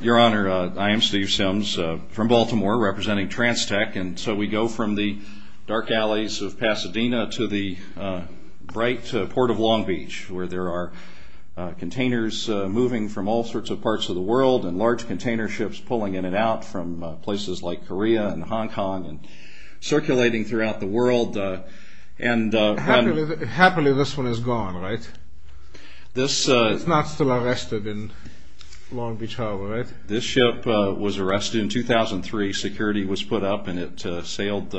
Your Honor, I am Steve Sims from Baltimore, representing Trans-Tec, and so we go from the dark alleys of Pasadena to the bright port of Long Beach, where there are containers moving from all sorts of parts of the world, and large container ships pulling in and out from places like Korea and Hong Kong, and circulating throughout the world. Happily this one is gone, right? This ship was arrested in 2003, security was put up, and it sailed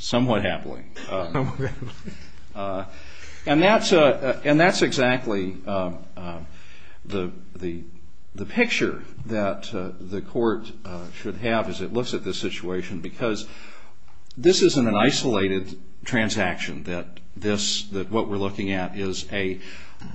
somewhat happily, and that's exactly the picture that the court should have as it looks at this situation, because this isn't an isolated transaction. What we're looking at is a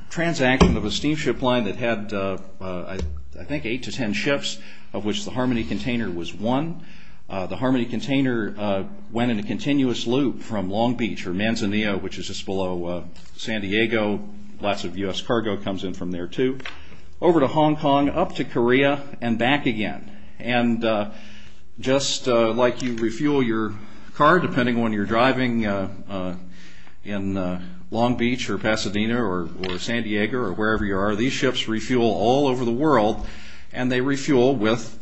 transaction of a steamship line that had I think eight to ten ships, of which the Harmony Container was one. The Harmony Container went in a continuous loop from Long Beach or Manzanillo, which is just below San Diego, lots of U.S. cargo comes in from there too, over to Hong Kong, up to Korea, and back again. Just like you refuel your car, depending on when you're driving in Long Beach or Pasadena or San Diego or wherever you are, these ships refuel all over the world, and they refuel with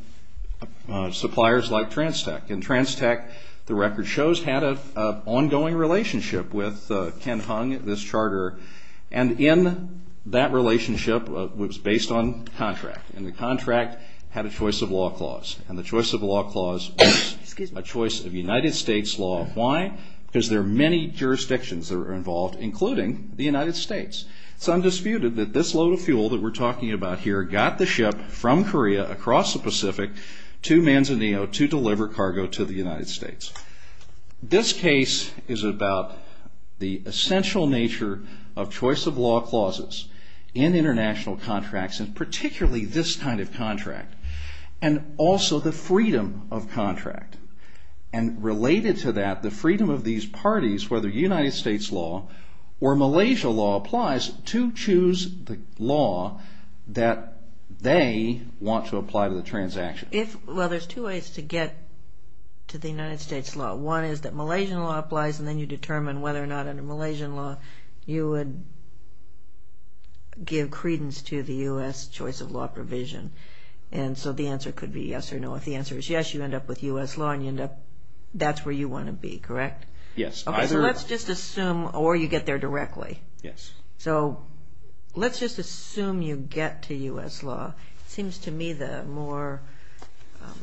suppliers like Transtek, and Transtek, the record shows, had an ongoing relationship with Ken Hung, this charterer, and in that relationship, it was based on contract, and the contract had a choice of law clause, and the choice of law clause was a choice of United States law. Why? Because there are many jurisdictions that were involved, including the United States. Some disputed that this load of fuel that we're talking about here got the ship from the Pacific to Manzanillo to deliver cargo to the United States. This case is about the essential nature of choice of law clauses in international contracts, and particularly this kind of contract, and also the freedom of contract, and related to that, the freedom of these parties, whether United States law or Malaysia law applies to choose the law that they want to apply to the transaction. If, well, there's two ways to get to the United States law. One is that Malaysian law applies, and then you determine whether or not under Malaysian law you would give credence to the U.S. choice of law provision, and so the answer could be yes or no. If the answer is yes, you end up with U.S. law, and you end up, that's where you want to be, correct? Yes. Okay, so let's just assume, or you get there directly. Yes. So, let's just assume you get to U.S. law. It seems to me the more,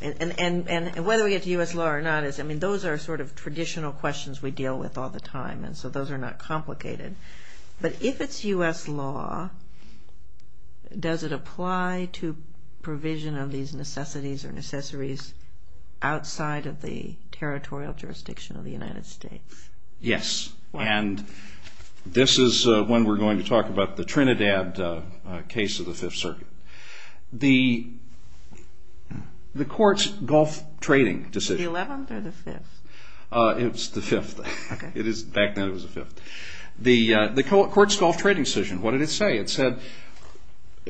and whether we get to U.S. law or not is, I mean, those are sort of traditional questions we deal with all the time, and so those are not complicated, but if it's U.S. law, does it apply to provision of these necessities or necessaries outside of the territorial jurisdiction of the United States? Yes, and this is when we're going to talk about the Trinidad case of the Fifth Circuit. The court's golf trading decision. The 11th or the 5th? It's the 5th. Okay. It is, back then it was the 5th. The court's golf trading decision, what did it say? It said,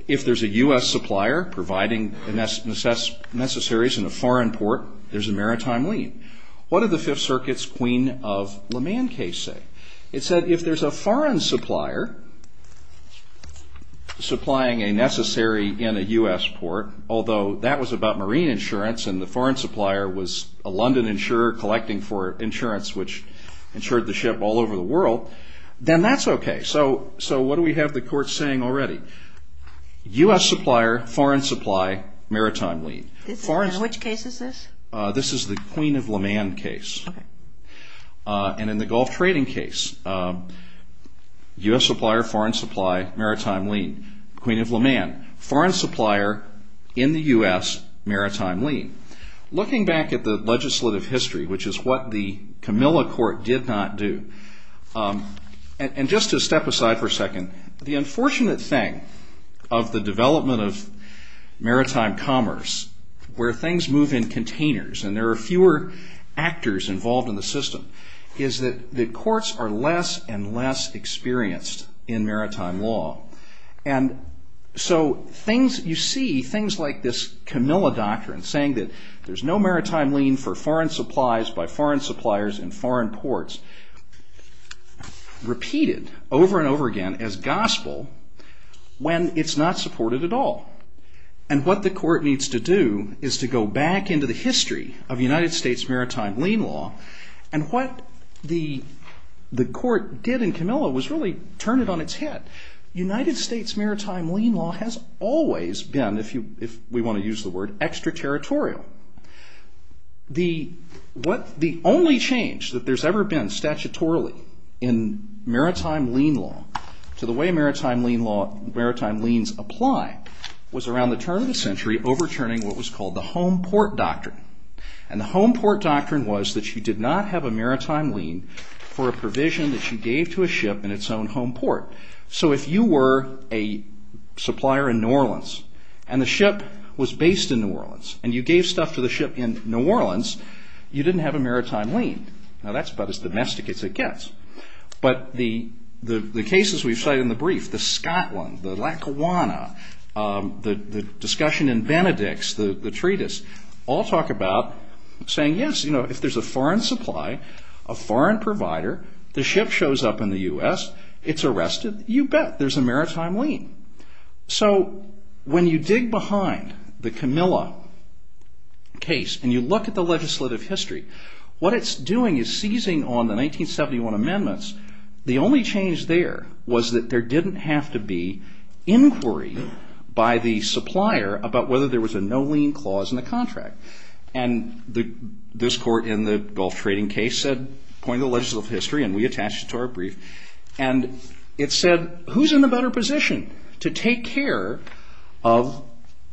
if there's a U.S. supplier providing the necessaries in a foreign port, there's a maritime lien. What did the Fifth Circuit's Queen of Le Mans case say? It said, if there's a foreign supplier supplying a necessary in a U.S. port, although that was about marine insurance and the foreign supplier was a London insurer collecting for insurance which insured the ship all over the world, then that's okay. Okay, so what do we have the court saying already? U.S. supplier, foreign supply, maritime lien. In which case is this? This is the Queen of Le Mans case, and in the golf trading case, U.S. supplier, foreign supply, maritime lien, Queen of Le Mans. Foreign supplier in the U.S., maritime lien. Looking back at the legislative history, which is what the Camilla Court did not do, and just to step aside for a second, the unfortunate thing of the development of maritime commerce where things move in containers and there are fewer actors involved in the system is that the courts are less and less experienced in maritime law. You see things like this Camilla doctrine saying that there's no maritime lien for foreign over and over again as gospel when it's not supported at all. And what the court needs to do is to go back into the history of United States maritime lien law and what the court did in Camilla was really turn it on its head. United States maritime lien law has always been, if we want to use the word, extraterritorial. The only change that there's ever been statutorily in maritime lien law to the way maritime liens apply was around the turn of the century overturning what was called the home port doctrine. And the home port doctrine was that you did not have a maritime lien for a provision that you gave to a ship in its own home port. So if you were a supplier in New Orleans and the ship was based in New Orleans and you gave stuff to the ship in New Orleans, you didn't have a maritime lien. Now that's about as domestic as it gets. But the cases we cite in the brief, the Scotland, the Lackawanna, the discussion in Benedicts, the treatise, all talk about saying yes, if there's a foreign supply, a foreign provider, the ship shows up in the U.S., it's arrested, you bet there's a maritime lien. So when you dig behind the Camilla case and you look at the legislative history, what it's doing is seizing on the 1971 amendments. The only change there was that there didn't have to be inquiry by the supplier about whether there was a no lien clause in the contract. And this court in the Gulf trading case said, according to the legislative history and we to take care of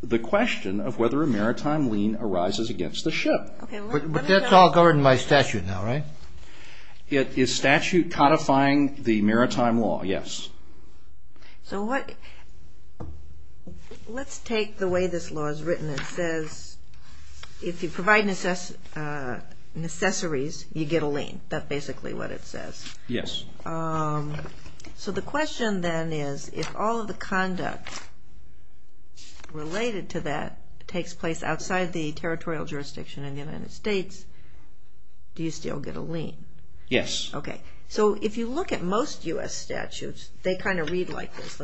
the question of whether a maritime lien arises against the ship. But that's all governed by statute now, right? It is statute codifying the maritime law, yes. So what, let's take the way this law is written, it says if you provide necessaries, you get a lien. That's basically what it says. Yes. So the question then is, if all of the conduct related to that takes place outside the territorial jurisdiction in the United States, do you still get a lien? Yes. Okay. So if you look at most U.S. statutes, they kind of read like this,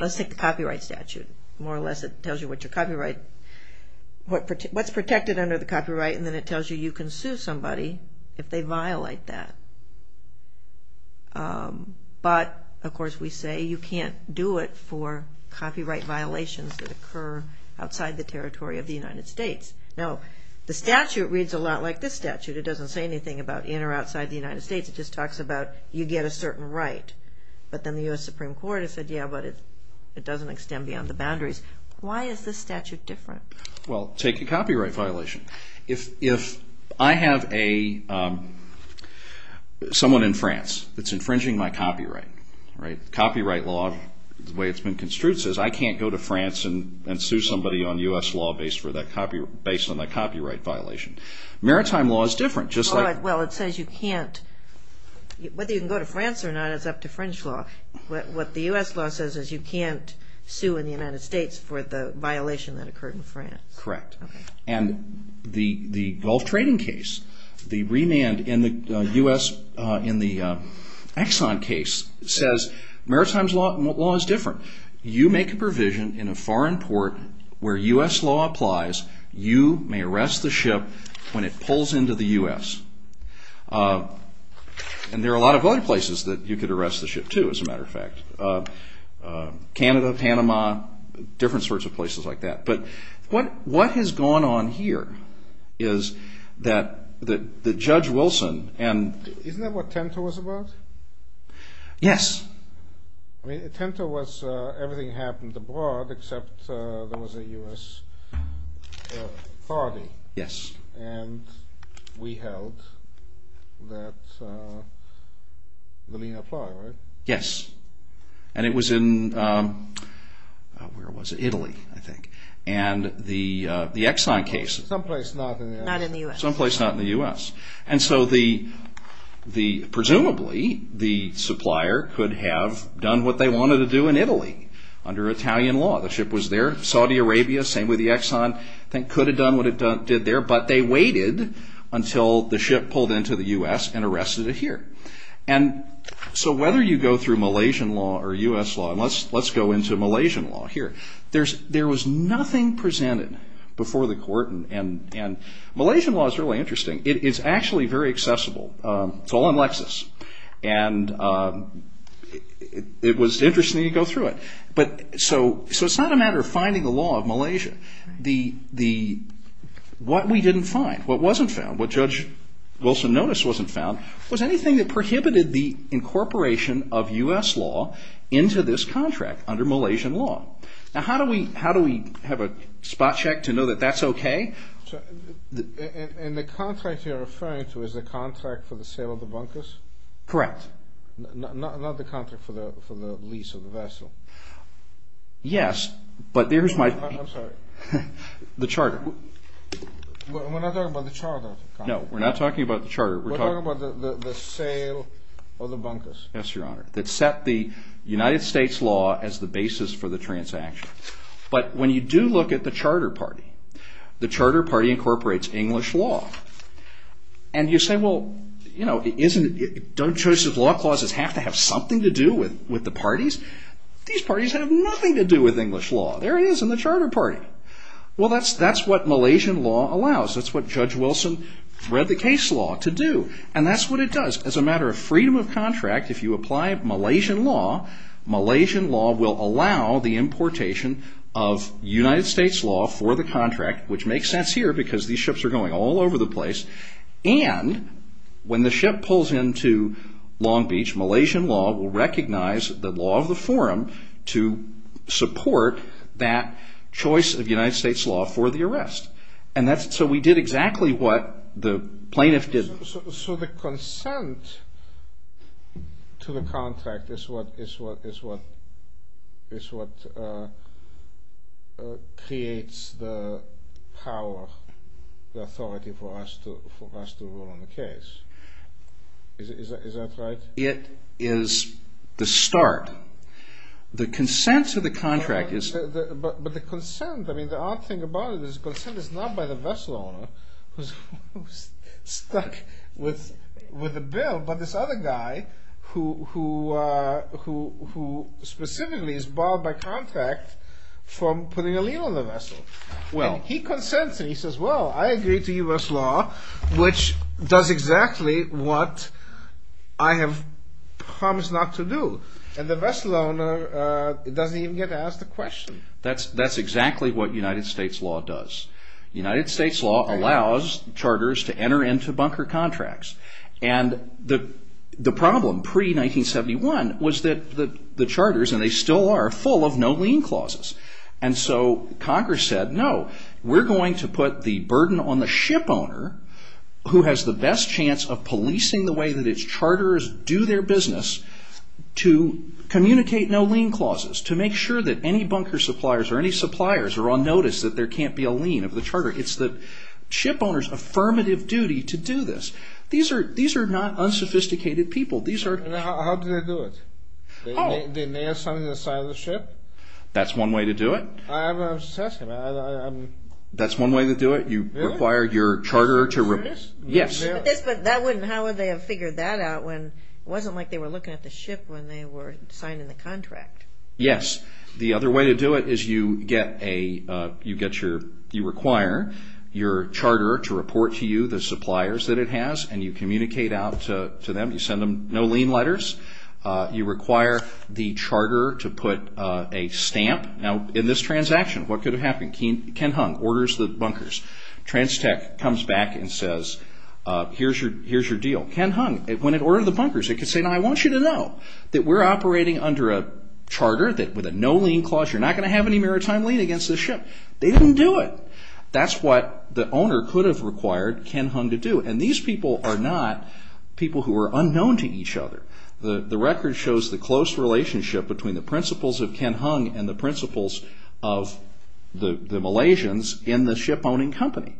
let's take the copyright statute, more or less it tells you what your copyright, what's protected under the copyright and then it tells you you can sue somebody if they violate that. But of course we say you can't do it for copyright violations that occur outside the territory of the United States. Now the statute reads a lot like this statute, it doesn't say anything about in or outside the United States, it just talks about you get a certain right. But then the U.S. Supreme Court has said, yeah, but it doesn't extend beyond the boundaries. Why is this statute different? Well take a copyright violation. If I have a, someone in France that's infringing my copyright, copyright law, the way it's been construed says I can't go to France and sue somebody on U.S. law based on that copyright violation. Maritime law is different, just like... Well it says you can't, whether you can go to France or not, it's up to French law. What the U.S. law says is you can't sue in the United States for the violation that occurred in France. Correct. And the Gulf trading case, the remand in the U.S., in the Exxon case, says maritime law is different. You make a provision in a foreign port where U.S. law applies, you may arrest the ship when it pulls into the U.S. And there are a lot of other places that you could arrest the ship to, as a matter of fact. Canada, Panama, different sorts of places like that. But what has gone on here is that Judge Wilson and... Isn't that what TENTA was about? Yes. I mean, TENTA was, everything happened abroad except there was a U.S. party. Yes. And we held that the lien applied, right? Yes. And it was in, where was it, Italy, I think. And the Exxon case... Someplace not in the U.S. Not in the U.S. Someplace not in the U.S. And so the, presumably, the supplier could have done what they wanted to do in Italy under Italian law. The ship was there. Saudi Arabia, same with the Exxon, could have done what it did there, but they waited until the ship pulled into the U.S. and arrested it here. And so whether you go through Malaysian law or U.S. law, and let's go into Malaysian law here. There was nothing presented before the court, and Malaysian law is really interesting. It's actually very accessible. It's all in Lexis. And it was interesting to go through it. But so it's not a matter of finding the law of Malaysia. What we didn't find, what wasn't found, what Judge Wilson noticed wasn't found, was anything that prohibited the incorporation of U.S. law into this contract under Malaysian law. Now, how do we have a spot check to know that that's okay? And the contract you're referring to is the contract for the sale of the bunkers? Correct. Not the contract for the lease of the vessel? Yes, but there's my... I'm sorry. The charter. No, we're not talking about the charter. We're talking about the sale of the bunkers. Yes, Your Honor. That set the United States law as the basis for the transaction. But when you do look at the charter party, the charter party incorporates English law. And you say, well, you know, don't Joseph's Law clauses have to have something to do with the parties? These parties have nothing to do with English law. There it is in the charter party. Well, that's what Malaysian law allows. That's what Judge Wilson read the case law to do. And that's what it does. As a matter of freedom of contract, if you apply Malaysian law, Malaysian law will allow the importation of United States law for the contract, which makes sense here because these ships are going all over the place. And when the ship pulls into Long Beach, Malaysian law will recognize the law of the forum to support that choice of United States law for the arrest. So we did exactly what the plaintiff did. So the consent to the contract is what creates the power, the authority for us to rule on the case. Is that right? It is the start. The consent to the contract is... But the consent, I mean, the odd thing about it is the consent is not by the vessel owner who's stuck with the bill, but this other guy who specifically is barred by contract from putting a lien on the vessel. And he consents and he says, well, I agree to US law, which does exactly what I have promised not to do. And the vessel owner doesn't even get to ask the question. That's exactly what United States law does. United States law allows charters to enter into bunker contracts. And the problem pre-1971 was that the charters, and they still are, full of no lien clauses. And so Congress said, no, we're going to put the burden on the ship owner who has the best chance of policing the way that its charters do their business to communicate no lien clauses, to make sure that any bunker suppliers or any suppliers are on notice that there can't be a lien of the charter. It's the ship owner's affirmative duty to do this. These are not unsophisticated people. How do they do it? They nail something to the side of the ship? That's one way to do it. That's one way to do it. You require your charter to... But how would they have figured that out when it wasn't like they were looking at the ship when they were signing the contract? Yes. The other way to do it is you require your charter to report to you the suppliers that it has and you communicate out to them. You send them no lien letters. You require the charter to put a stamp. Now, in this transaction, what could have happened? Ken Hung orders the bunkers. TransTech comes back and says, here's your deal. Ken Hung, when it ordered the bunkers, it could say, I want you to know that we're operating under a charter that with a no lien clause, you're not going to have any maritime lien against this ship. They didn't do it. That's what the owner could have required Ken Hung to do. And these people are not people who are unknown to each other. The record shows the close relationship between the principles of Ken Hung and the principles of the Malaysians in the ship-owning company.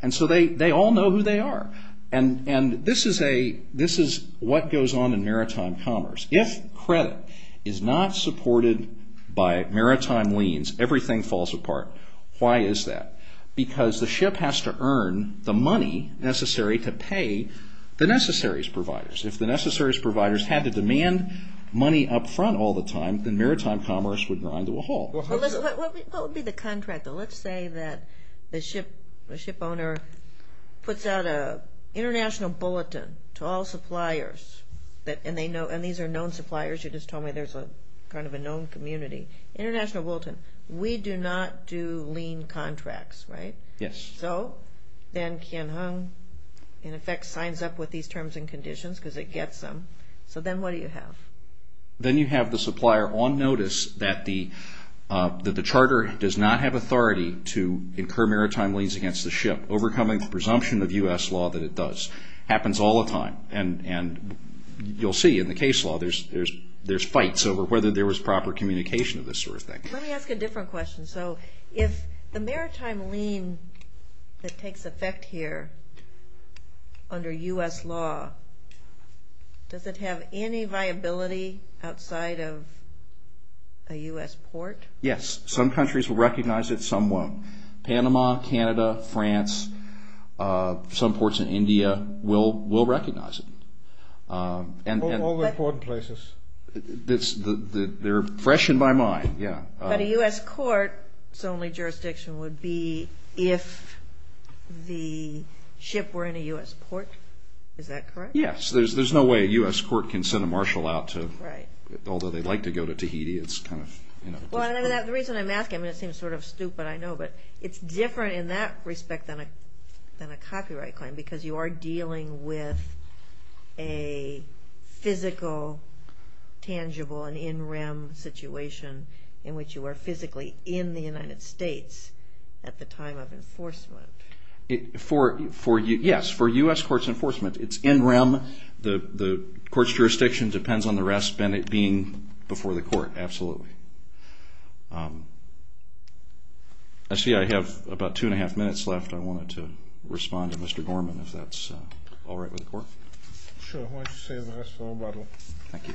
And so they all know who they are. And this is what goes on in maritime commerce. If credit is not supported by maritime liens, everything falls apart. Why is that? Because the ship has to earn the money necessary to pay the necessaries providers. If the necessaries providers had to demand money up front all the time, then maritime commerce would grind to a halt. What would be the contract? Let's say that the ship owner puts out an international bulletin to all suppliers. And these are known suppliers. You just told me there's kind of a known community. International bulletin. We do not do lien contracts, right? Yes. So then Ken Hung, in effect, signs up with these terms and conditions because it gets them. So then what do you have? Then you have the supplier on notice that the charter does not have authority to incur maritime liens against the ship, overcoming the presumption of U.S. law that it does. Happens all the time. And you'll see in the case law, there's fights over whether there was proper communication of this sort of thing. Let me ask a different question. So if the maritime lien that takes effect here under U.S. law, does it have any viability outside of a U.S. port? Yes. Some countries will recognize it. Some won't. Panama, Canada, France, some ports in India will recognize it. All the important places. They're fresh in my mind, yeah. But a U.S. court's only jurisdiction would be if the ship were in a U.S. port. Is that correct? Yes. There's no way a U.S. court can send a marshal out to, although they'd like to go to Tahiti, it's kind of, you know. The reason I'm asking, I mean it seems sort of stupid, I know, but it's different in that respect than a copyright claim because you are dealing with a physical, tangible, an in rem situation in which you are physically in the United States at the time of enforcement. Yes. For U.S. court's enforcement, it's in rem. The court's jurisdiction depends on the rest being before the court. Absolutely. Actually, I have about two and a half minutes left. I wanted to respond to Mr. Gorman if that's all right with the court. Sure. Why don't you save the rest for Obama? Thank you.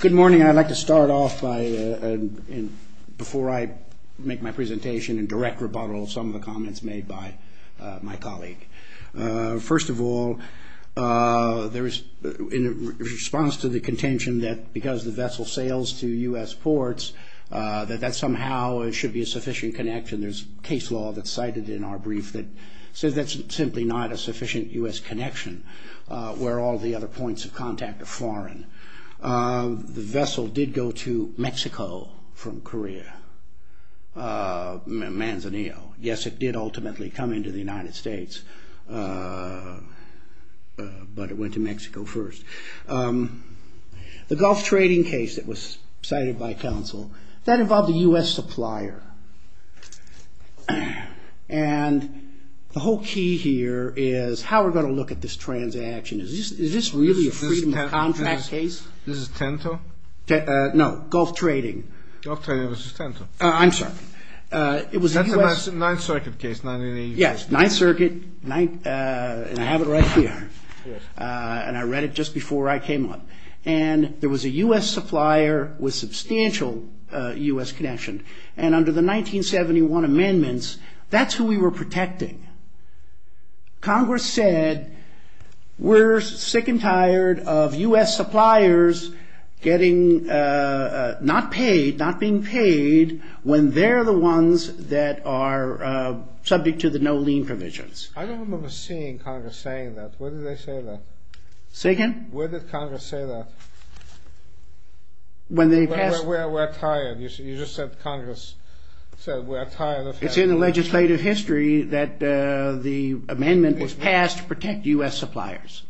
Good morning. I'd like to start off by, before I make my presentation and direct rebuttal of some of the comments made by my colleague. First of all, in response to the contention that because the vessel sails to U.S. ports, that that somehow should be a sufficient connection, there's case law that's cited in our brief that says that's simply not a sufficient U.S. connection where all the other points of contact are foreign. The vessel did go to Mexico from Korea, Manzanillo. Yes, it did ultimately come into the United States, but it went to Mexico first. The Gulf trading case that was cited by counsel, that involved a U.S. supplier. And the whole key here is how we're going to look at this transaction. Is this really a freedom of contract case? This is Tento? No, Gulf trading. Gulf trading versus Tento. I'm sorry. That's a Ninth Circuit case. Yes, Ninth Circuit, and I have it right here. And I read it just before I came up. And there was a U.S. supplier with substantial U.S. connection. And under the 1971 amendments, that's who we were protecting. Congress said, we're sick and tired of U.S. suppliers getting not paid, not being paid, when they're the ones that are subject to the no lien provisions. I don't remember seeing Congress saying that. Where did they say that? Say again? Where did Congress say that? When they passed... We're tired. You just said Congress said we're tired of... It's in the legislative history that the amendment was passed to protect U.S. suppliers.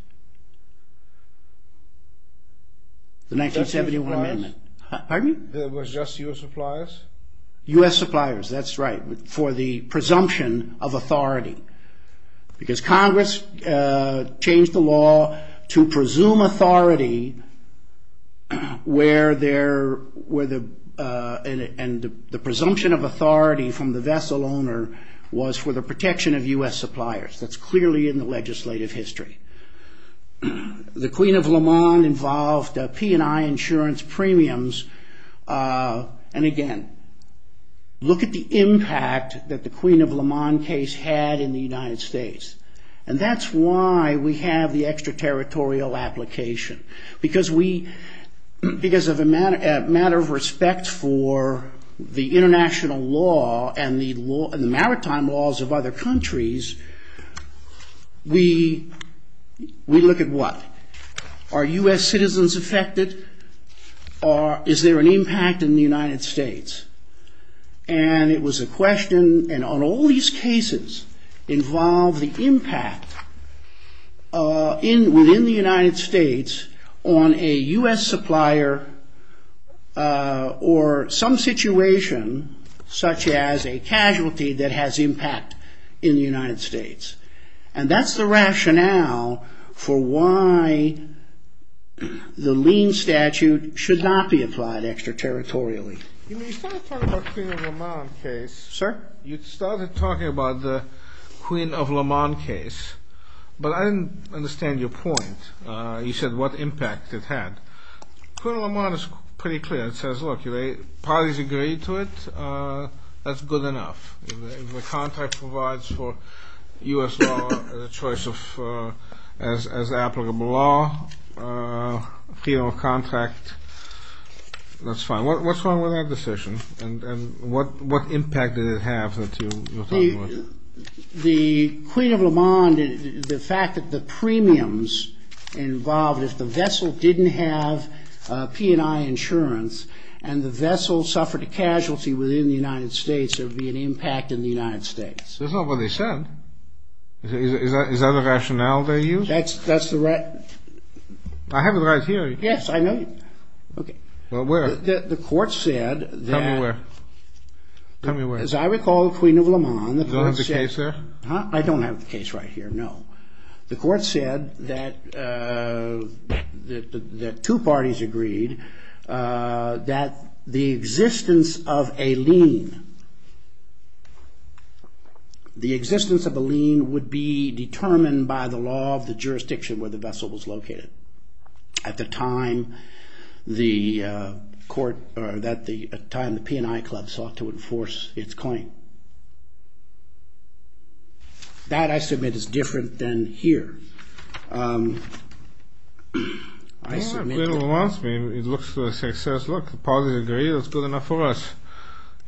The 1971 amendment. Pardon me? It was just U.S. suppliers? U.S. suppliers. That's right. For the presumption of authority. Because Congress changed the law to presume authority where there... And the presumption of authority from the vessel owner was for the protection of U.S. suppliers. That's clearly in the legislative history. The Queen of Le Mans involved P&I insurance premiums. And again, look at the impact that the Queen of Le Mans case had in the United States. And that's why we have the extraterritorial application. Because of a matter of respect for the international law and the maritime laws of other countries, we look at what? Are U.S. citizens affected? Is there an impact in the United States? And it was a question... And all these cases involve the impact within the United States on a U.S. supplier or some situation such as a casualty that has impact in the United States. And that's the rationale for why the lien statute should not be applied extraterritorially. You started talking about the Queen of Le Mans case. Sir? You started talking about the Queen of Le Mans case. But I didn't understand your point. You said what impact it had. Queen of Le Mans is pretty clear. Parties agree to it. That's good enough. The contract provides for U.S. law as applicable law. Freedom of contract. That's fine. What's wrong with that decision? And what impact did it have that you're talking about? The Queen of Le Mans, the fact that the premiums involved, if the vessel didn't have P&I insurance and the vessel suffered a casualty within the United States, there would be an impact in the United States. That's not what they said. Is that a rationale they used? That's the right... I have it right here. Yes, I know. The court said that... Tell me where. As I recall, the Queen of Le Mans... I don't have the case right here, no. The court said that... that two parties agreed that the existence of a lien... the existence of a lien would be determined by the law of the jurisdiction where the vessel was located at the time the court... at the time the P&I club sought to enforce its claim. That, I submit, is different than here. I submit that... It looks to us, it says, look, the parties agree, that's good enough for us.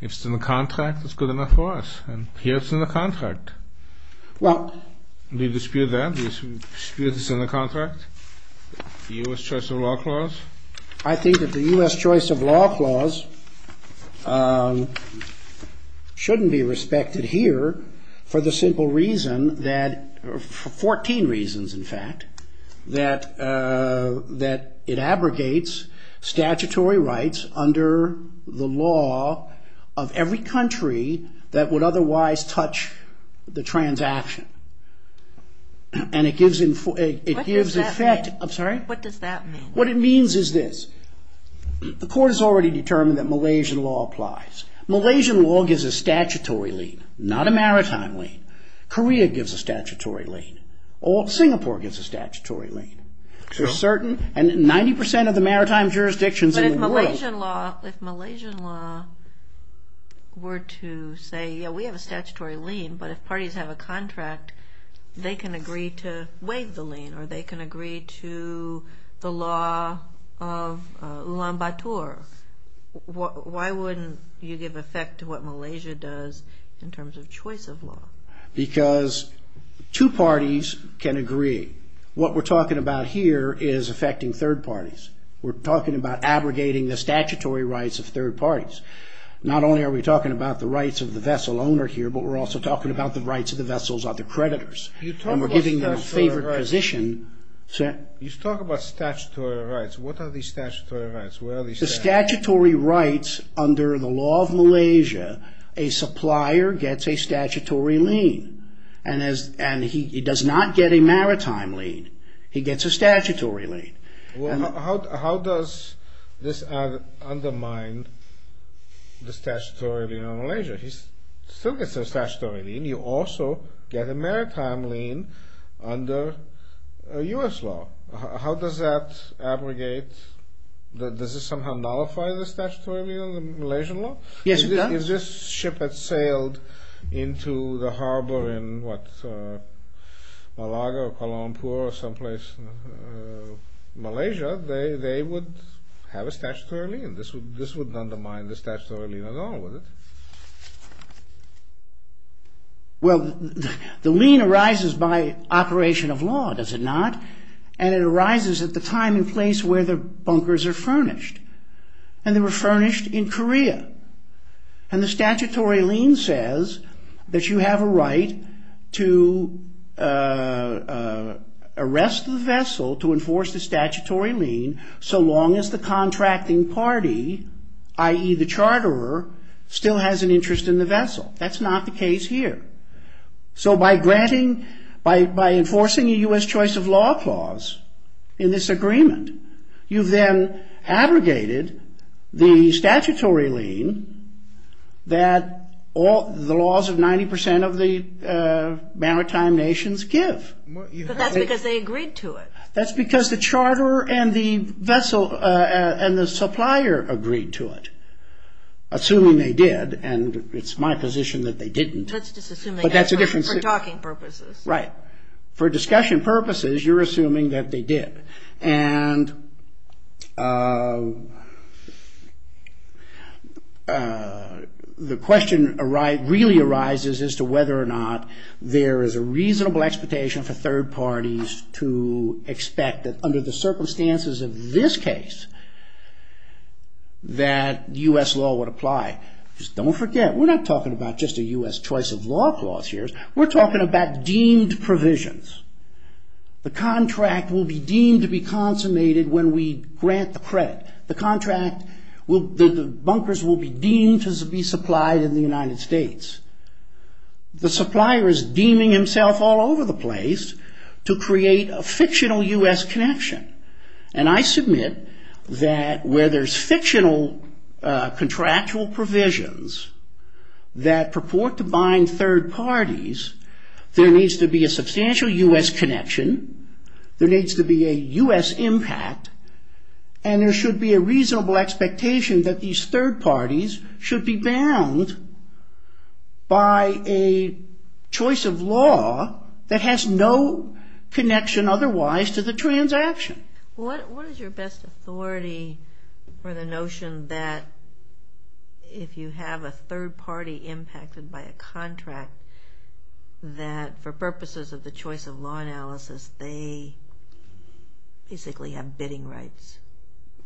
If it's in the contract, that's good enough for us. Here it's in the contract. Do you dispute that? Do you dispute it's in the contract? The U.S. Choice of Law Clause? I think that the U.S. Choice of Law Clause shouldn't be respected here for the simple reason that... for 14 reasons, in fact, that it abrogates statutory rights under the law of every country that would otherwise touch the transaction. And it gives... What does that mean? What it means is this. The court has already determined that Malaysian law applies. Malaysian law gives a statutory lien, not a maritime lien. Korea gives a statutory lien. Singapore gives a statutory lien. 90% of the maritime jurisdictions in the world... But if Malaysian law were to say, yeah, we have a statutory lien, but if parties have a contract, they can agree to waive the lien, or they can agree to the law of Ulan Bator, why wouldn't you give effect to what Malaysia does in terms of choice of law? Because two parties can agree. What we're talking about here is affecting third parties. We're talking about abrogating the statutory rights of third parties. Not only are we talking about the rights of the vessel owner here, but we're also talking about the rights of the vessel's other creditors. And we're giving them a favorite position. You talk about statutory rights. What are these statutory rights? The statutory rights, under the law of Malaysia, a supplier gets a statutory lien. And he does not get a maritime lien. He gets a statutory lien. How does this undermine the statutory lien on Malaysia? He still gets a statutory lien. You also get a maritime lien under U.S. law. How does that abrogate, does it somehow nullify the statutory lien on the Malaysian law? Yes, it does. If this ship had sailed into the harbor in, what, Malaga or Kuala Lumpur or someplace in Malaysia, they would have a statutory lien. This wouldn't undermine the statutory lien at all, would it? Well, the lien arises by operation of law, does it not? And it arises at the time and place where the bunkers are furnished. And they were furnished in Korea. And the statutory lien says that you have a right to arrest the vessel to enforce the statutory lien so long as the contracting party, i.e. the charterer, still has an interest in the vessel. That's not the case here. So by granting, by enforcing a U.S. choice of law clause in this agreement, you've then abrogated the statutory lien that the laws of 90% of the maritime nations give. But that's because they agreed to it. That's because the charterer and the supplier agreed to it. Assuming they did, and it's my position that they didn't. But that's a different situation. Right. For discussion purposes, you're assuming that they did. And the question really arises as to whether or not there is a reasonable expectation for third parties to expect that under the circumstances of this case that U.S. law would apply. Don't forget, we're not talking about just a U.S. choice of law clause here. We're talking about deemed provisions. The contract will be deemed to be consummated when we grant the credit. The contract, the bunkers will be deemed to be supplied in the United States. The supplier is deeming himself all over the place to create a fictional U.S. connection. And I submit that where there's fictional contractual provisions that purport to bind third parties, there needs to be a substantial U.S. connection, there needs to be a U.S. impact, and there should be a reasonable expectation that these third parties should be bound by a choice of law that has no connection otherwise to the transaction. What is your best authority for the notion that if you have a third party impacted by a contract, that for purposes of the choice of law analysis, they basically have bidding rights?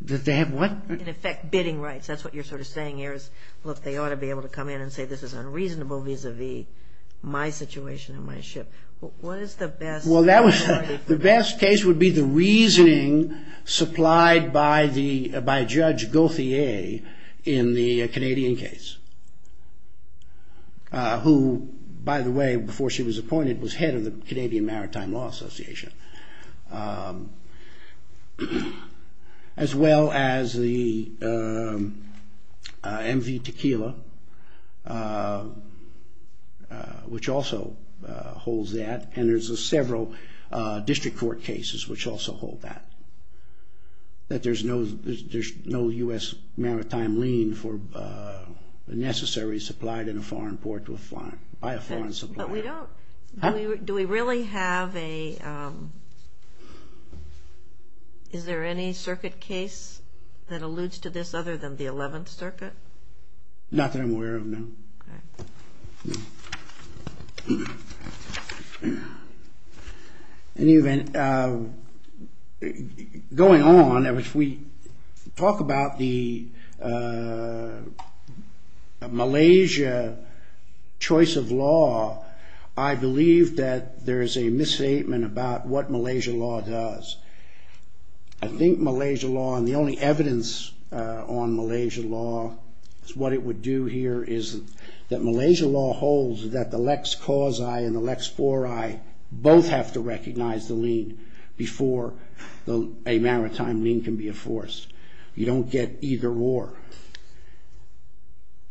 They have what? In effect, bidding rights. That's what you're sort of saying here. Look, they ought to be able to come in and say this is unreasonable vis-a-vis my situation and my ship. What is the best? The best case would be the reasoning supplied by Judge Gauthier in the Canadian case. Who, by the way, before she was appointed, was head of the Canadian Maritime Law Association. As well as the MV Tequila, which also holds that, and there's several district court cases which also hold that. That there's no U.S. maritime lien necessary supplied in a foreign port by a foreign supplier. But we don't. Do we really have a is there any circuit case that alludes to this other than the not that I'm aware of, no. In any event, going on if we talk about the Malaysia choice of law I believe that there's a misstatement about what Malaysia law does. I think Malaysia law, and the only evidence on Malaysia law, what it would do here is that Malaysia law holds that the Lex Causi and the Lex Fori both have to recognize the lien before a maritime lien can be enforced. You don't get either or.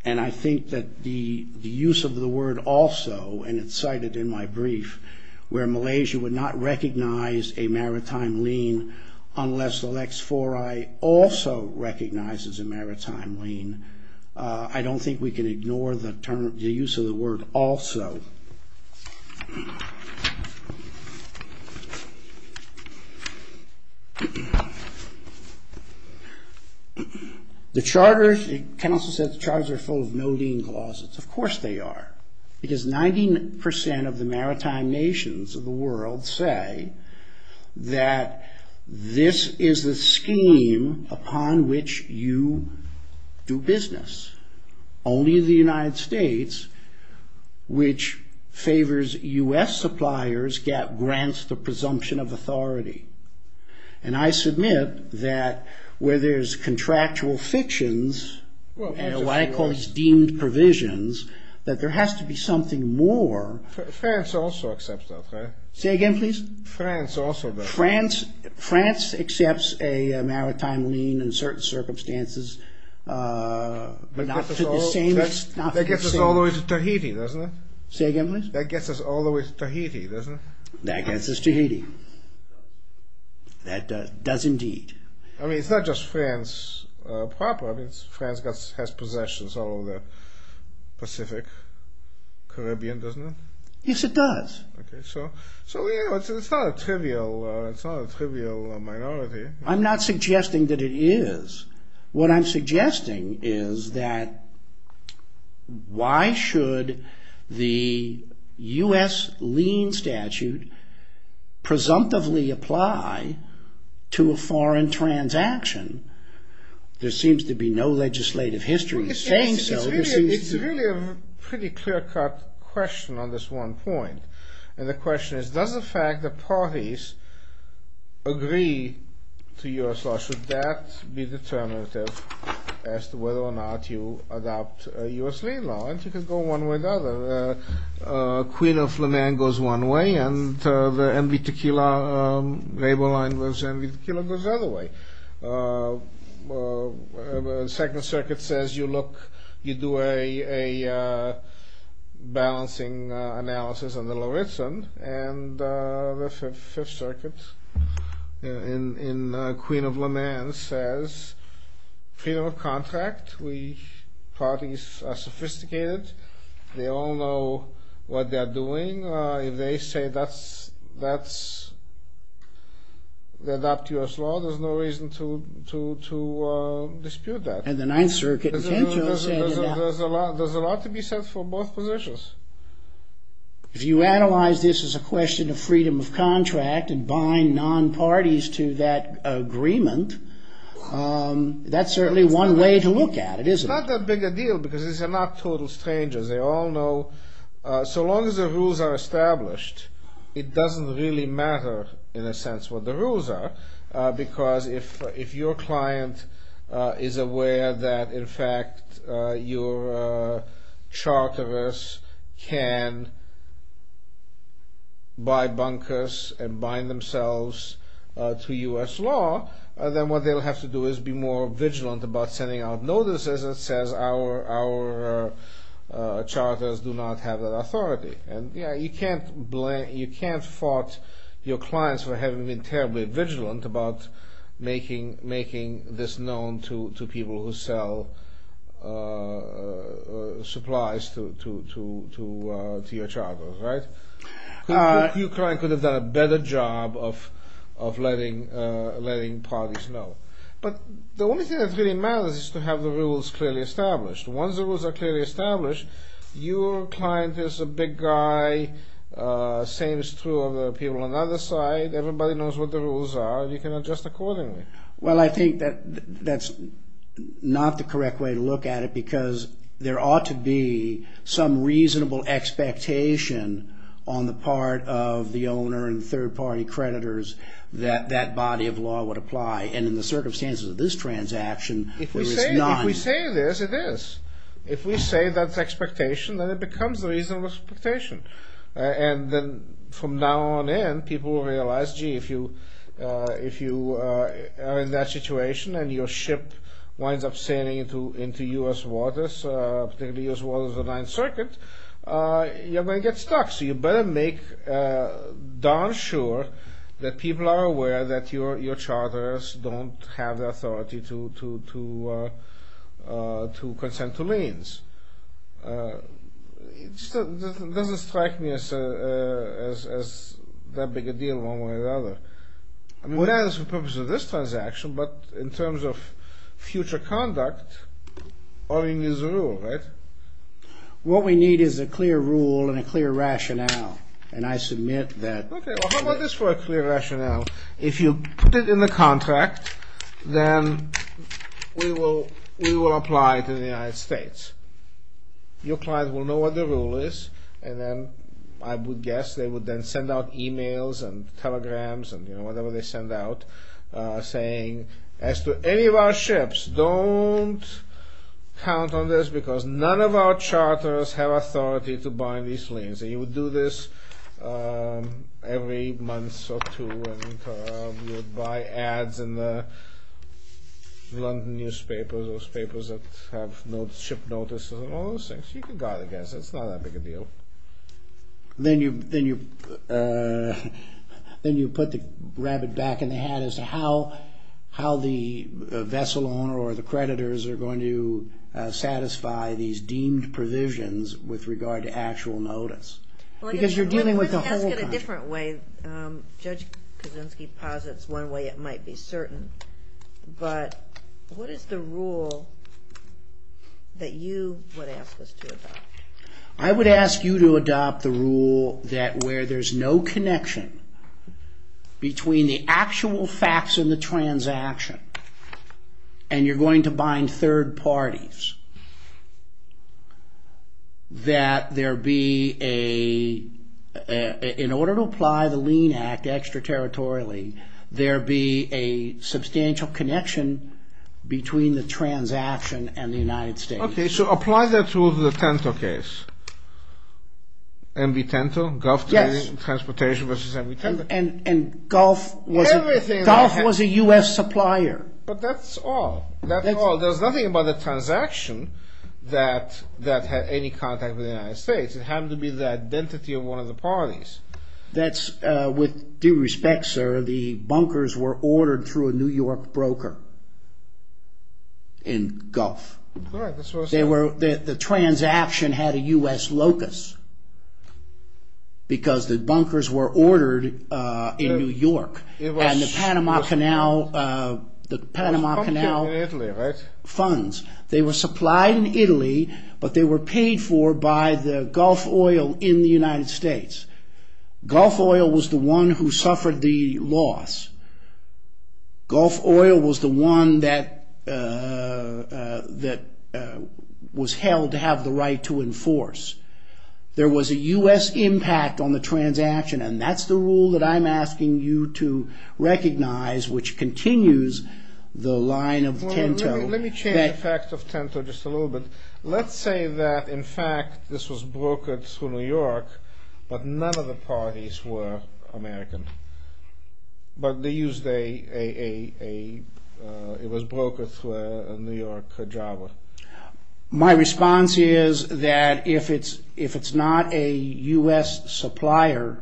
And I think that the use of the word also and it's cited in my brief where Malaysia would not recognize a maritime lien unless the Lex Fori also recognizes a maritime lien I don't think we can ignore the use of the word also. The charters, Ken also said the charters are full of no lien clauses. Of course they are. Because 90% of the maritime nations of the world say that this is a scheme upon which you do business. Only the United States which favors US suppliers grants the presumption of authority. And I submit that where there's contractual fictions and what I call these deemed provisions that there has to be something more France also accepts that, right? Say again, please? France also does. France accepts a maritime lien in certain circumstances but not to the same extent. That gets us all the way to Tahiti, doesn't it? Say again, please? That gets us all the way to Tahiti, doesn't it? That gets us to Tahiti. That does indeed. I mean, it's not just France proper France has possessions all over the Pacific Caribbean, doesn't it? Yes, it does. It's not a trivial minority. I'm not suggesting that it is. What I'm suggesting is that why should the US lien statute presumptively apply to a foreign transaction? There seems to be no legislative history saying so. It's really a pretty clear-cut question on this one point. And the question is does the fact that parties agree to US law, should that be determinative as to whether or not you adopt a US lien law? And you can go one way or the other. Queen of Flaman goes one way and the MV Tequila label line goes the other way. The do a balancing analysis on the Lawritson and the Fifth Circuit in Queen of Flaman says freedom of contract parties are sophisticated they all know what they're doing. If they say that's they adopt US law, there's no reason to dispute that. And the Ninth Circuit There's a lot to be said for both positions. If you analyze this as a question of freedom of contract and buying non-parties to that that's certainly one way to look at it, isn't it? It's not that big a deal because these are not total strangers. They all know so long as the rules are established it doesn't really matter in a sense what the rules are because if your client is aware that in fact your charters can buy bunkers and bind themselves to US law then what they'll have to do is be more vigilant about sending out notices that says our charters do not have that authority. You can't fault your clients for having been terribly vigilant about making this known to people who sell supplies to your charters, right? Your client could have done a better job of letting parties know. But the only thing that really matters is to have the rules clearly established. Once the rules are clearly established your client is a big guy same is true of the people on the other side everybody knows what the rules are you can adjust accordingly. Well I think that's not the correct way to look at it because there ought to be some reasonable expectation on the part of the owner and third party creditors that that body of law would apply and in the circumstances of this transaction if we say this it is. If we say that's expectation then it becomes reasonable expectation. And then from now on in people will realize gee if you are in that situation and your ship winds up sailing into US waters particularly US waters of the 9th circuit you're going to get stuck. So you better make darn sure that people are aware that your charters don't have the authority to consent to liens. It doesn't strike me as that big a deal one way or the other. I mean not for the purpose of this transaction but in terms of future conduct owning is a rule, right? What we need is a clear rule and a clear rationale and I submit that How about this for a clear rationale if you put it in the contract then we will apply to the United States your client will know what the rule is and then I would guess they would then send out emails and telegrams and whatever they send out saying as to any of our ships don't count on this because none of our charters have authority to bind these liens and you would do this every month or two and you would buy ads in the London newspapers those papers that have ship notices and all those things it's not that big a deal Then you put the rabbit back in the hat as to how the vessel owner or the creditors are going to satisfy these deemed provisions with regard to actual notice The question has to get a different way Judge Kaczynski posits one way it might be certain but what is the rule that you would ask us to adopt? I would ask you to adopt the rule that where there's no connection between the actual facts and the transaction and you're going to bind third parties that there be a in order to apply the lien act extra-territorially there be a substantial connection between the transaction and the United States So apply that to the TENTO case MV TENTO Yes And GULF GULF was a US supplier But that's all There's nothing about the transaction that had any contact with the United States It had to be the identity of one of the parties That's with due respect sir the bunkers were ordered through a New York broker in GULF The transaction had a US locus because the bunkers were ordered in New York and the Panama Canal the Panama Canal funds they were supplied in Italy but they were paid for by the Gulf Oil in the United States Gulf Oil was the one who suffered the loss Gulf Oil was the one that that was held to have the right to enforce There was a US impact on the transaction and that's the rule that I'm asking you to recognize which continues the line of TENTO Let me change the fact of TENTO just a little bit Let's say that in fact this was brokered through New York but none of the parties were American but they used a it was brokered through a New York jobber My response is that if it's not a US supplier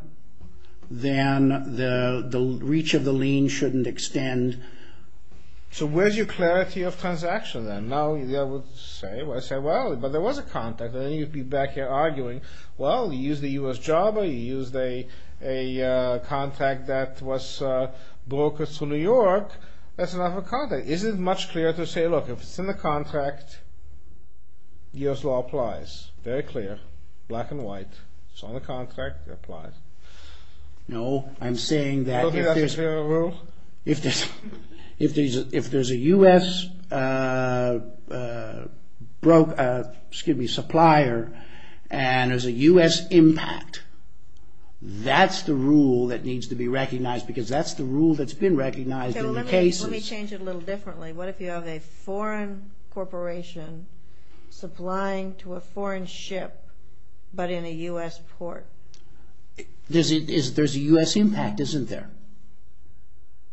then the reach of the lien shouldn't extend So where's your clarity of transaction then? Now I would say well, but there was a contract and then you'd be back here arguing well, you used a US jobber you used a contract that was brokered through New York that's enough of a contract Is it much clearer to say look, if it's in the contract US law applies very clear, black and white it's on the contract, it applies No, I'm saying that if there's If there's If there's a US supplier and there's a US impact that's the rule that needs to be recognized because that's the rule that's been recognized in the cases What if you have a foreign corporation supplying to a foreign ship but in a US port There's a US but the impact isn't there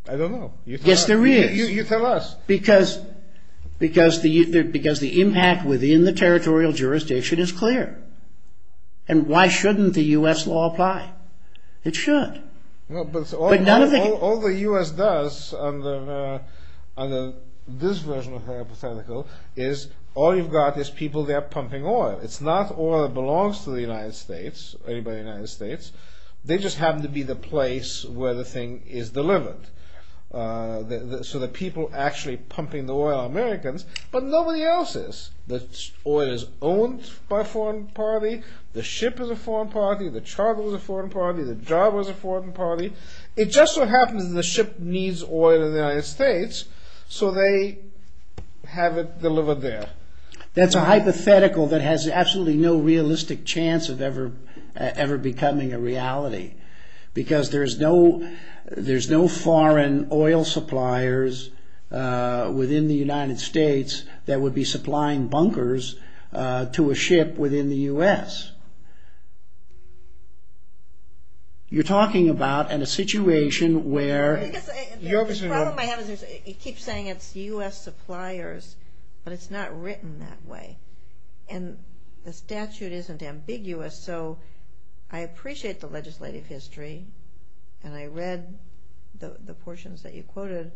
I don't know Yes there is Because the impact within the territorial jurisdiction is clear and why shouldn't the US law apply? It should All the US does under this version of the hypothetical is all you've got is people that are pumping oil It's not oil that belongs to the United States or anybody in the United States They just happen to be the place where the thing is delivered So the people actually pumping the oil are Americans but nobody else is The oil is owned by a foreign party The ship is a foreign party The charter is a foreign party The job is a foreign party It just so happens that the ship needs oil in the United States so they have it delivered there That's a hypothetical that has absolutely no realistic chance of ever becoming a reality because there's no foreign oil suppliers within the United States that would be supplying bunkers to a ship within the US You're talking about a situation where The problem I have is it keeps saying it's US suppliers but it's not written that way and the statute isn't ambiguous so I appreciate the legislative history and I read the portions that you quoted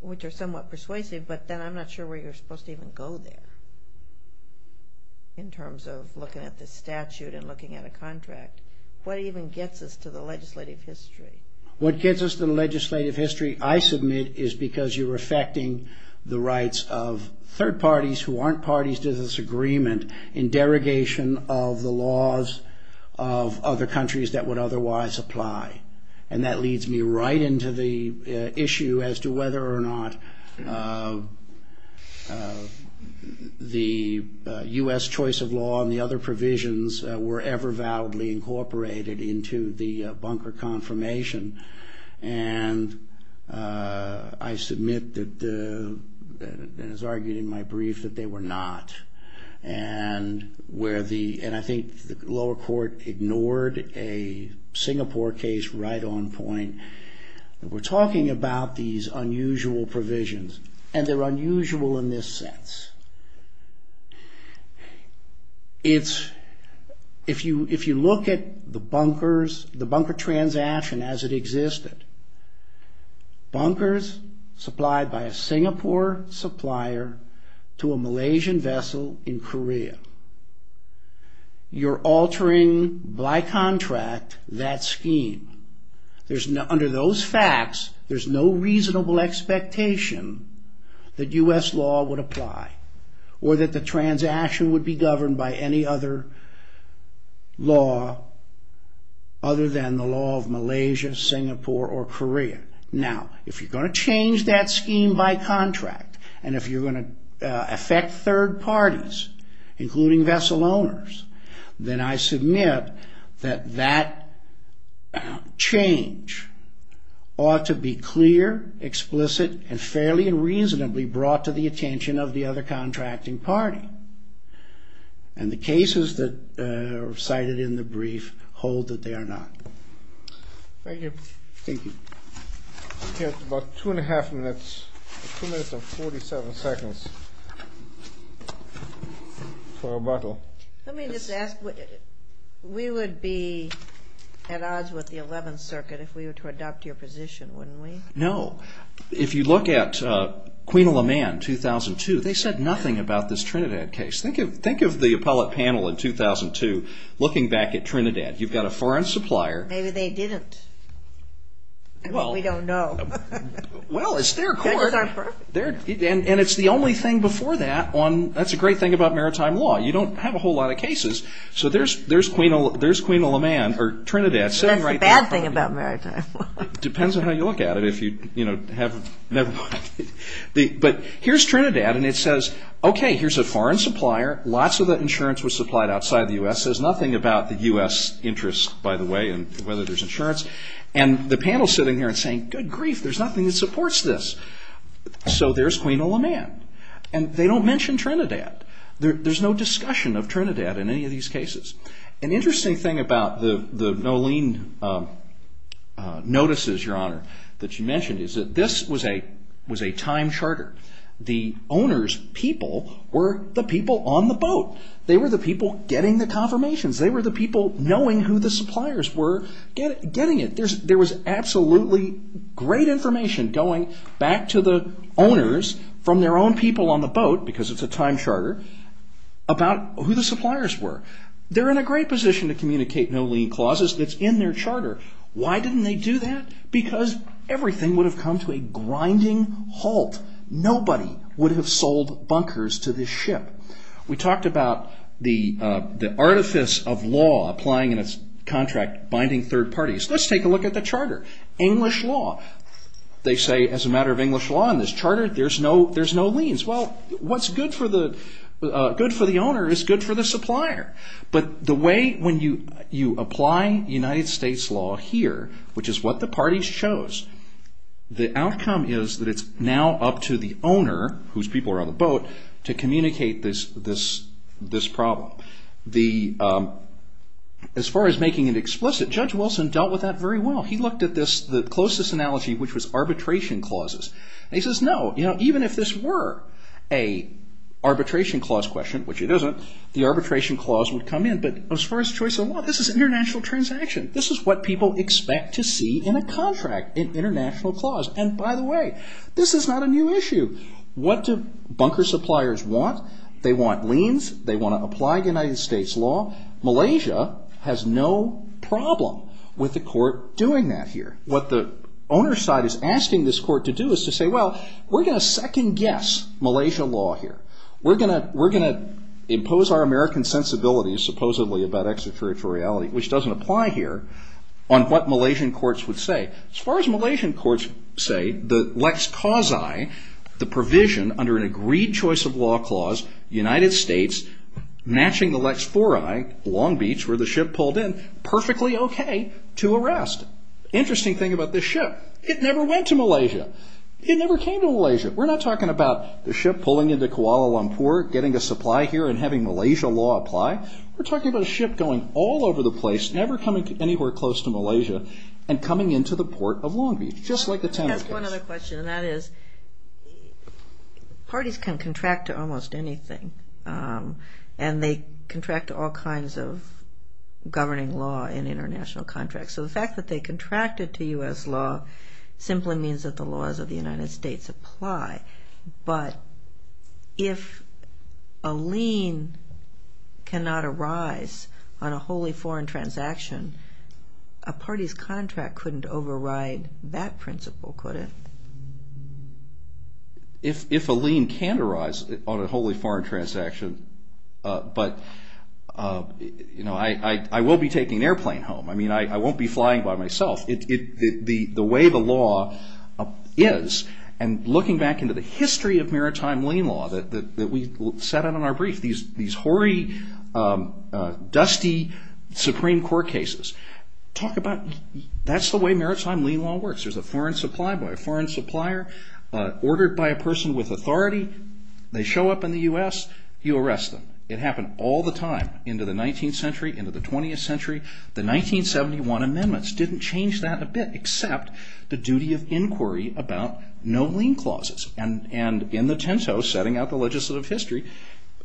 which are somewhat persuasive but then I'm not sure where you're supposed to even go there in terms of looking at the statute and looking at a contract What even gets us to the legislative history? What gets us to the legislative history I submit is because you're affecting the rights of third parties who aren't parties to this agreement in derogation of the laws of other countries that would otherwise apply and that leads me right into the issue as to whether or not the US choice of law and the other provisions were ever validly incorporated into the bunker confirmation and I submit that and it's argued in my brief that they were not and where the and I think the lower court ignored a Singapore case right on point we're talking about these unusual provisions and they're unusual in this sense it's if you look at the bunkers the bunker transaction as it existed bunkers supplied by a Singapore supplier to a Malaysian vessel in Korea you're altering by contract that scheme under those facts there's no reasonable expectation that US law would apply or that the transaction would be governed by any other law other than the Malaysia, Singapore or Korea now if you're going to change that scheme by contract and if you're going to affect third parties including vessel owners then I submit that that change ought to be clear explicit and fairly and reasonably brought to the attention of the other contracting party and the cases that are cited in the brief hold that they are not thank you we have about two and a half minutes two minutes and forty seven seconds for rebuttal let me just ask we would be at odds with the 11th circuit if we were to adopt your position wouldn't we? no, if you look at Queen of Le Mans 2002 they said nothing about this Trinidad case think of the appellate panel in 2002 looking back at Trinidad you've got a foreign supplier maybe they didn't we don't know well it's their court and it's the only thing before that that's the great thing about maritime law you don't have a whole lot of cases so there's Queen of Le Mans or Trinidad that's the bad thing about maritime law depends on how you look at it but here's Trinidad and it says okay here's a foreign supplier lots of that insurance was supplied outside the U.S. says nothing about the U.S. interest by the way and whether there's insurance and the panel's sitting here and saying good grief there's nothing that supports this so there's Queen of Le Mans and they don't mention Trinidad there's no discussion of Trinidad in any of these cases an interesting thing about the Nolene notices your honor that you mentioned is that this was a time charter the owners people were the people on the boat they were the people getting the confirmations they were the people knowing who the suppliers were getting it there was absolutely great information going back to the owners from their own people on the boat because it's a time charter about who the suppliers were they're in a great position to communicate Nolene clauses it's in their charter why didn't they do that because everything would have come to a grinding halt nobody would have sold bunkers to this ship we talked about the artifice of law applying in its contract binding third parties let's take a look at the charter English law they say as a matter of English law in this charter there's no liens well what's good for the good for the owner is good for the supplier but the way when you apply United States law here which is what the parties chose the outcome is that it's now up to the owner whose people are on the boat to communicate this problem the as far as making it explicit Judge Wilson dealt with that very well he looked at this the closest analogy which was arbitration clauses he says no even if this were a arbitration clause question which it isn't the arbitration clause would come in but as far as choice of law this is international transaction this is what people expect to see in a contract in international clause and by the way this is not a new issue what do bunker suppliers want they want liens they want to apply United States law Malaysia has no problem with the court doing that here what the owner side is asking this court to do is to say well we're going to second guess Malaysia law here we're going to impose our American sensibilities supposedly about extraterritoriality which doesn't apply here on what Malaysian courts would say as far as Malaysian courts say the Lex Causi the provision under an agreed choice of law clause United States matching the Lex Fori Long Beach where the ship pulled in perfectly okay to arrest interesting thing about this ship it never went to Malaysia it never came to Malaysia we're not talking about the ship pulling into Kuala Lumpur getting a supply here and having Malaysia law apply we're talking about a ship going all over the place never coming anywhere close to Malaysia and coming into the port of Long Beach just like the Tenerife I have one other question and that is parties can contract to almost anything and they contract to all kinds of governing law in international contracts so the fact that they contracted to US law simply means that the laws of the United States apply but if a lien cannot arise on a wholly foreign transaction a parties contract couldn't override that principle could it? If a lien can arise on a wholly foreign transaction but I will be taking an airplane home I mean I won't be flying by myself the way the law is and looking back into the history of maritime lien law that we sat on in our brief these hoary dusty Supreme Court cases talk about that's the way maritime lien law works there's a foreign supplier ordered by a person with authority they show up in the US you arrest them it happened all the time into the 19th century into the 20th century the 1971 amendments didn't change that a bit except the duty of inquiry about no lien clauses and in the tento setting out the legislative history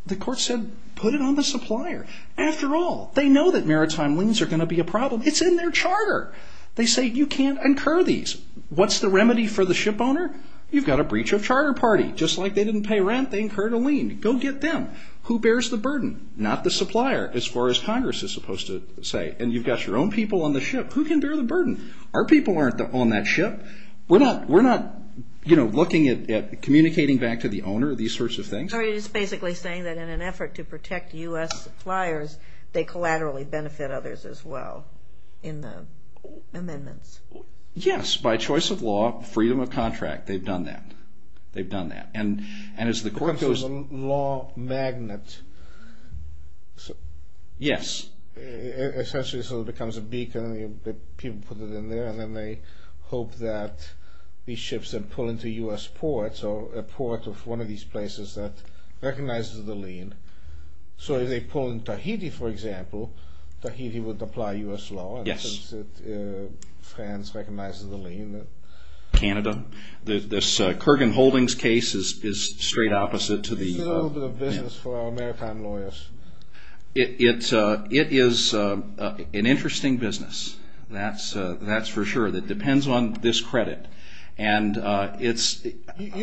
the court said put it on the supplier after all they know that maritime liens are going to be a problem it's in their charter they say you can't incur these what's the remedy for the ship owner? you've got a breach of charter party just like they didn't pay rent they incurred a lien go get them who bears the burden? not the supplier as far as congress is supposed to say and you've got your own people on the ship who can bear the burden? our people aren't on that ship we're not looking at communicating back to the owner these sorts of things so you're basically saying that in an effort to protect US suppliers they collaterally benefit others as well in the amendments yes by choice of law freedom of contract they've done that they've done that law magnet yes essentially so it becomes a beacon people put it in there and then they hope that these ships are pulled into US ports or a port of one of these places that recognizes the lien so if they pull in Tahiti for example Tahiti would apply US law France recognizes the lien Canada this Kurgan Holdings case is straight opposite it's a little bit of business for our maritime lawyers it is an interesting business that's for sure it depends on this credit you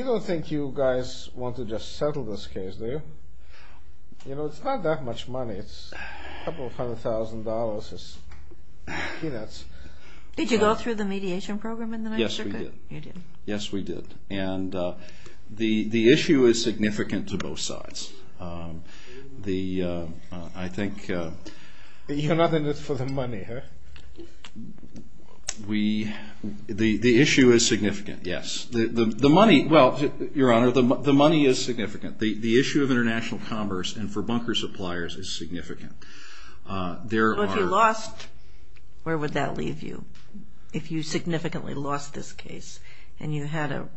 don't think you guys want to just settle this case do you? it's not that much money a couple hundred thousand dollars peanuts did you go through the mediation program? yes we did the issue is significant to both sides the I think you're not in it for the money huh? we the issue is significant yes the money your honor the money is significant the issue of international commerce and for bunker suppliers is significant if you lost where would that leave you? if you significantly lost this case and you had an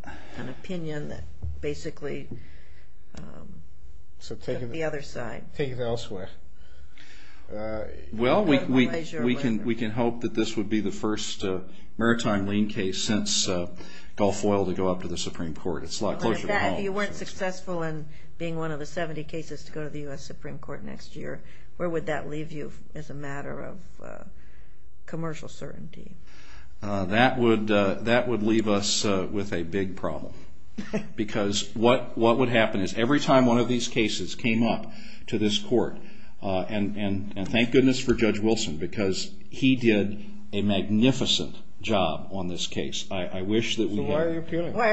opinion that basically so taking the other side well we can hope that this would be the first maritime lien case since Gulf Oil to go up to the Supreme Court if you weren't successful in being one of the 70 cases to go to the US Supreme Court next year where would that leave you as a matter of commercial certainty that would leave us with a big problem because what would happen is every time one of these cases came up to this court and thank goodness for Judge Wilson because he did a magnificent job on this case I wish that we had why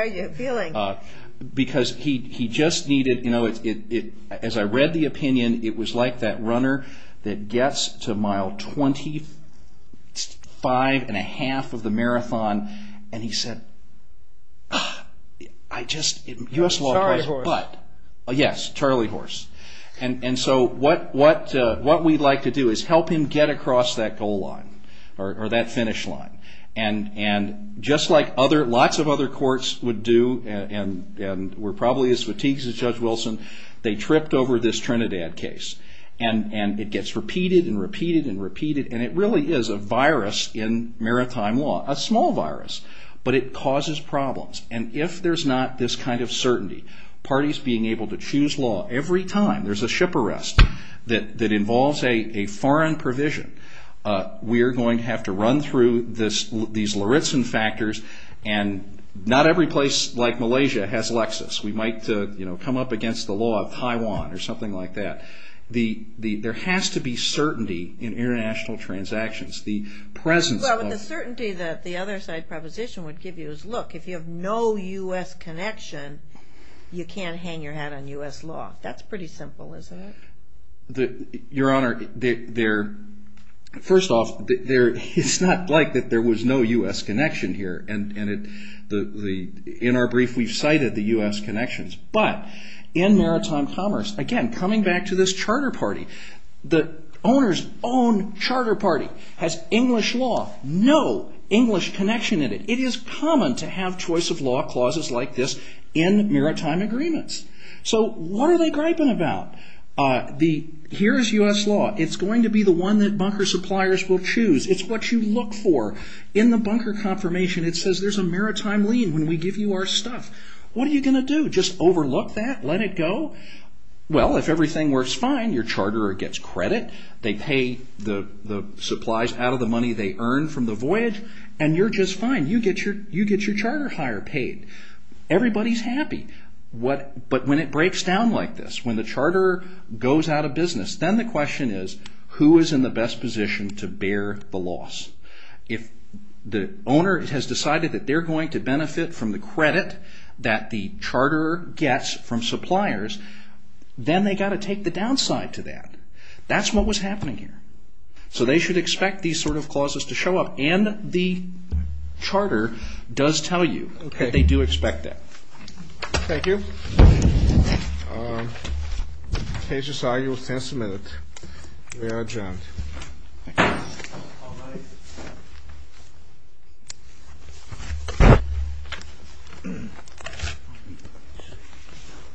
are you appealing? because he just needed as I read the opinion it was like that runner that gets to mile twenty five and a half of the marathon and he said I just yes Charlie Horse and so what we'd like to do is help him get across that goal line or that finish line just like lots of other courts would do and were probably as fatigued as Judge Wilson they tripped over this Trinidad case and it gets repeated and repeated and repeated and it really is a virus in maritime law a small virus but it causes problems and if there's not this kind of certainty parties being able to choose law every time there's a ship arrest that involves a foreign provision we're going to have to run through these Lauritzen factors and not every place like Malaysia has Lexis we might come up against the law of Taiwan or something like that there has to be certainty in international transactions the presence of the other side proposition would give you look if you have no U.S. connection you can't hang your hat on U.S. law that's pretty simple isn't it your honor first off it's not like there was no U.S. connection here in our brief we've cited the U.S. connections but in maritime commerce again coming back to this your own charter party has English law no English connection in it it is common to have choice of law clauses like this in maritime agreements so what are they griping about here's U.S. law it's going to be the one that bunker suppliers will choose it's what you look for in the bunker confirmation it says there's a maritime lien when we give you our stuff what are you going to do just overlook that let it go well if everything works fine your charterer gets credit they pay the supplies out of the money they earn from the voyage and you're just fine you get your charter hire paid everybody's happy but when it breaks down like this when the charterer goes out of business then the question is who is in the best position to bear the loss if the owner has decided that they're going to benefit from the credit that the charterer gets then they've got to take the downside to that that's what was happening here so they should expect these sort of clauses to show up and the charterer does tell you that they do expect that thank you case is argued we are adjourned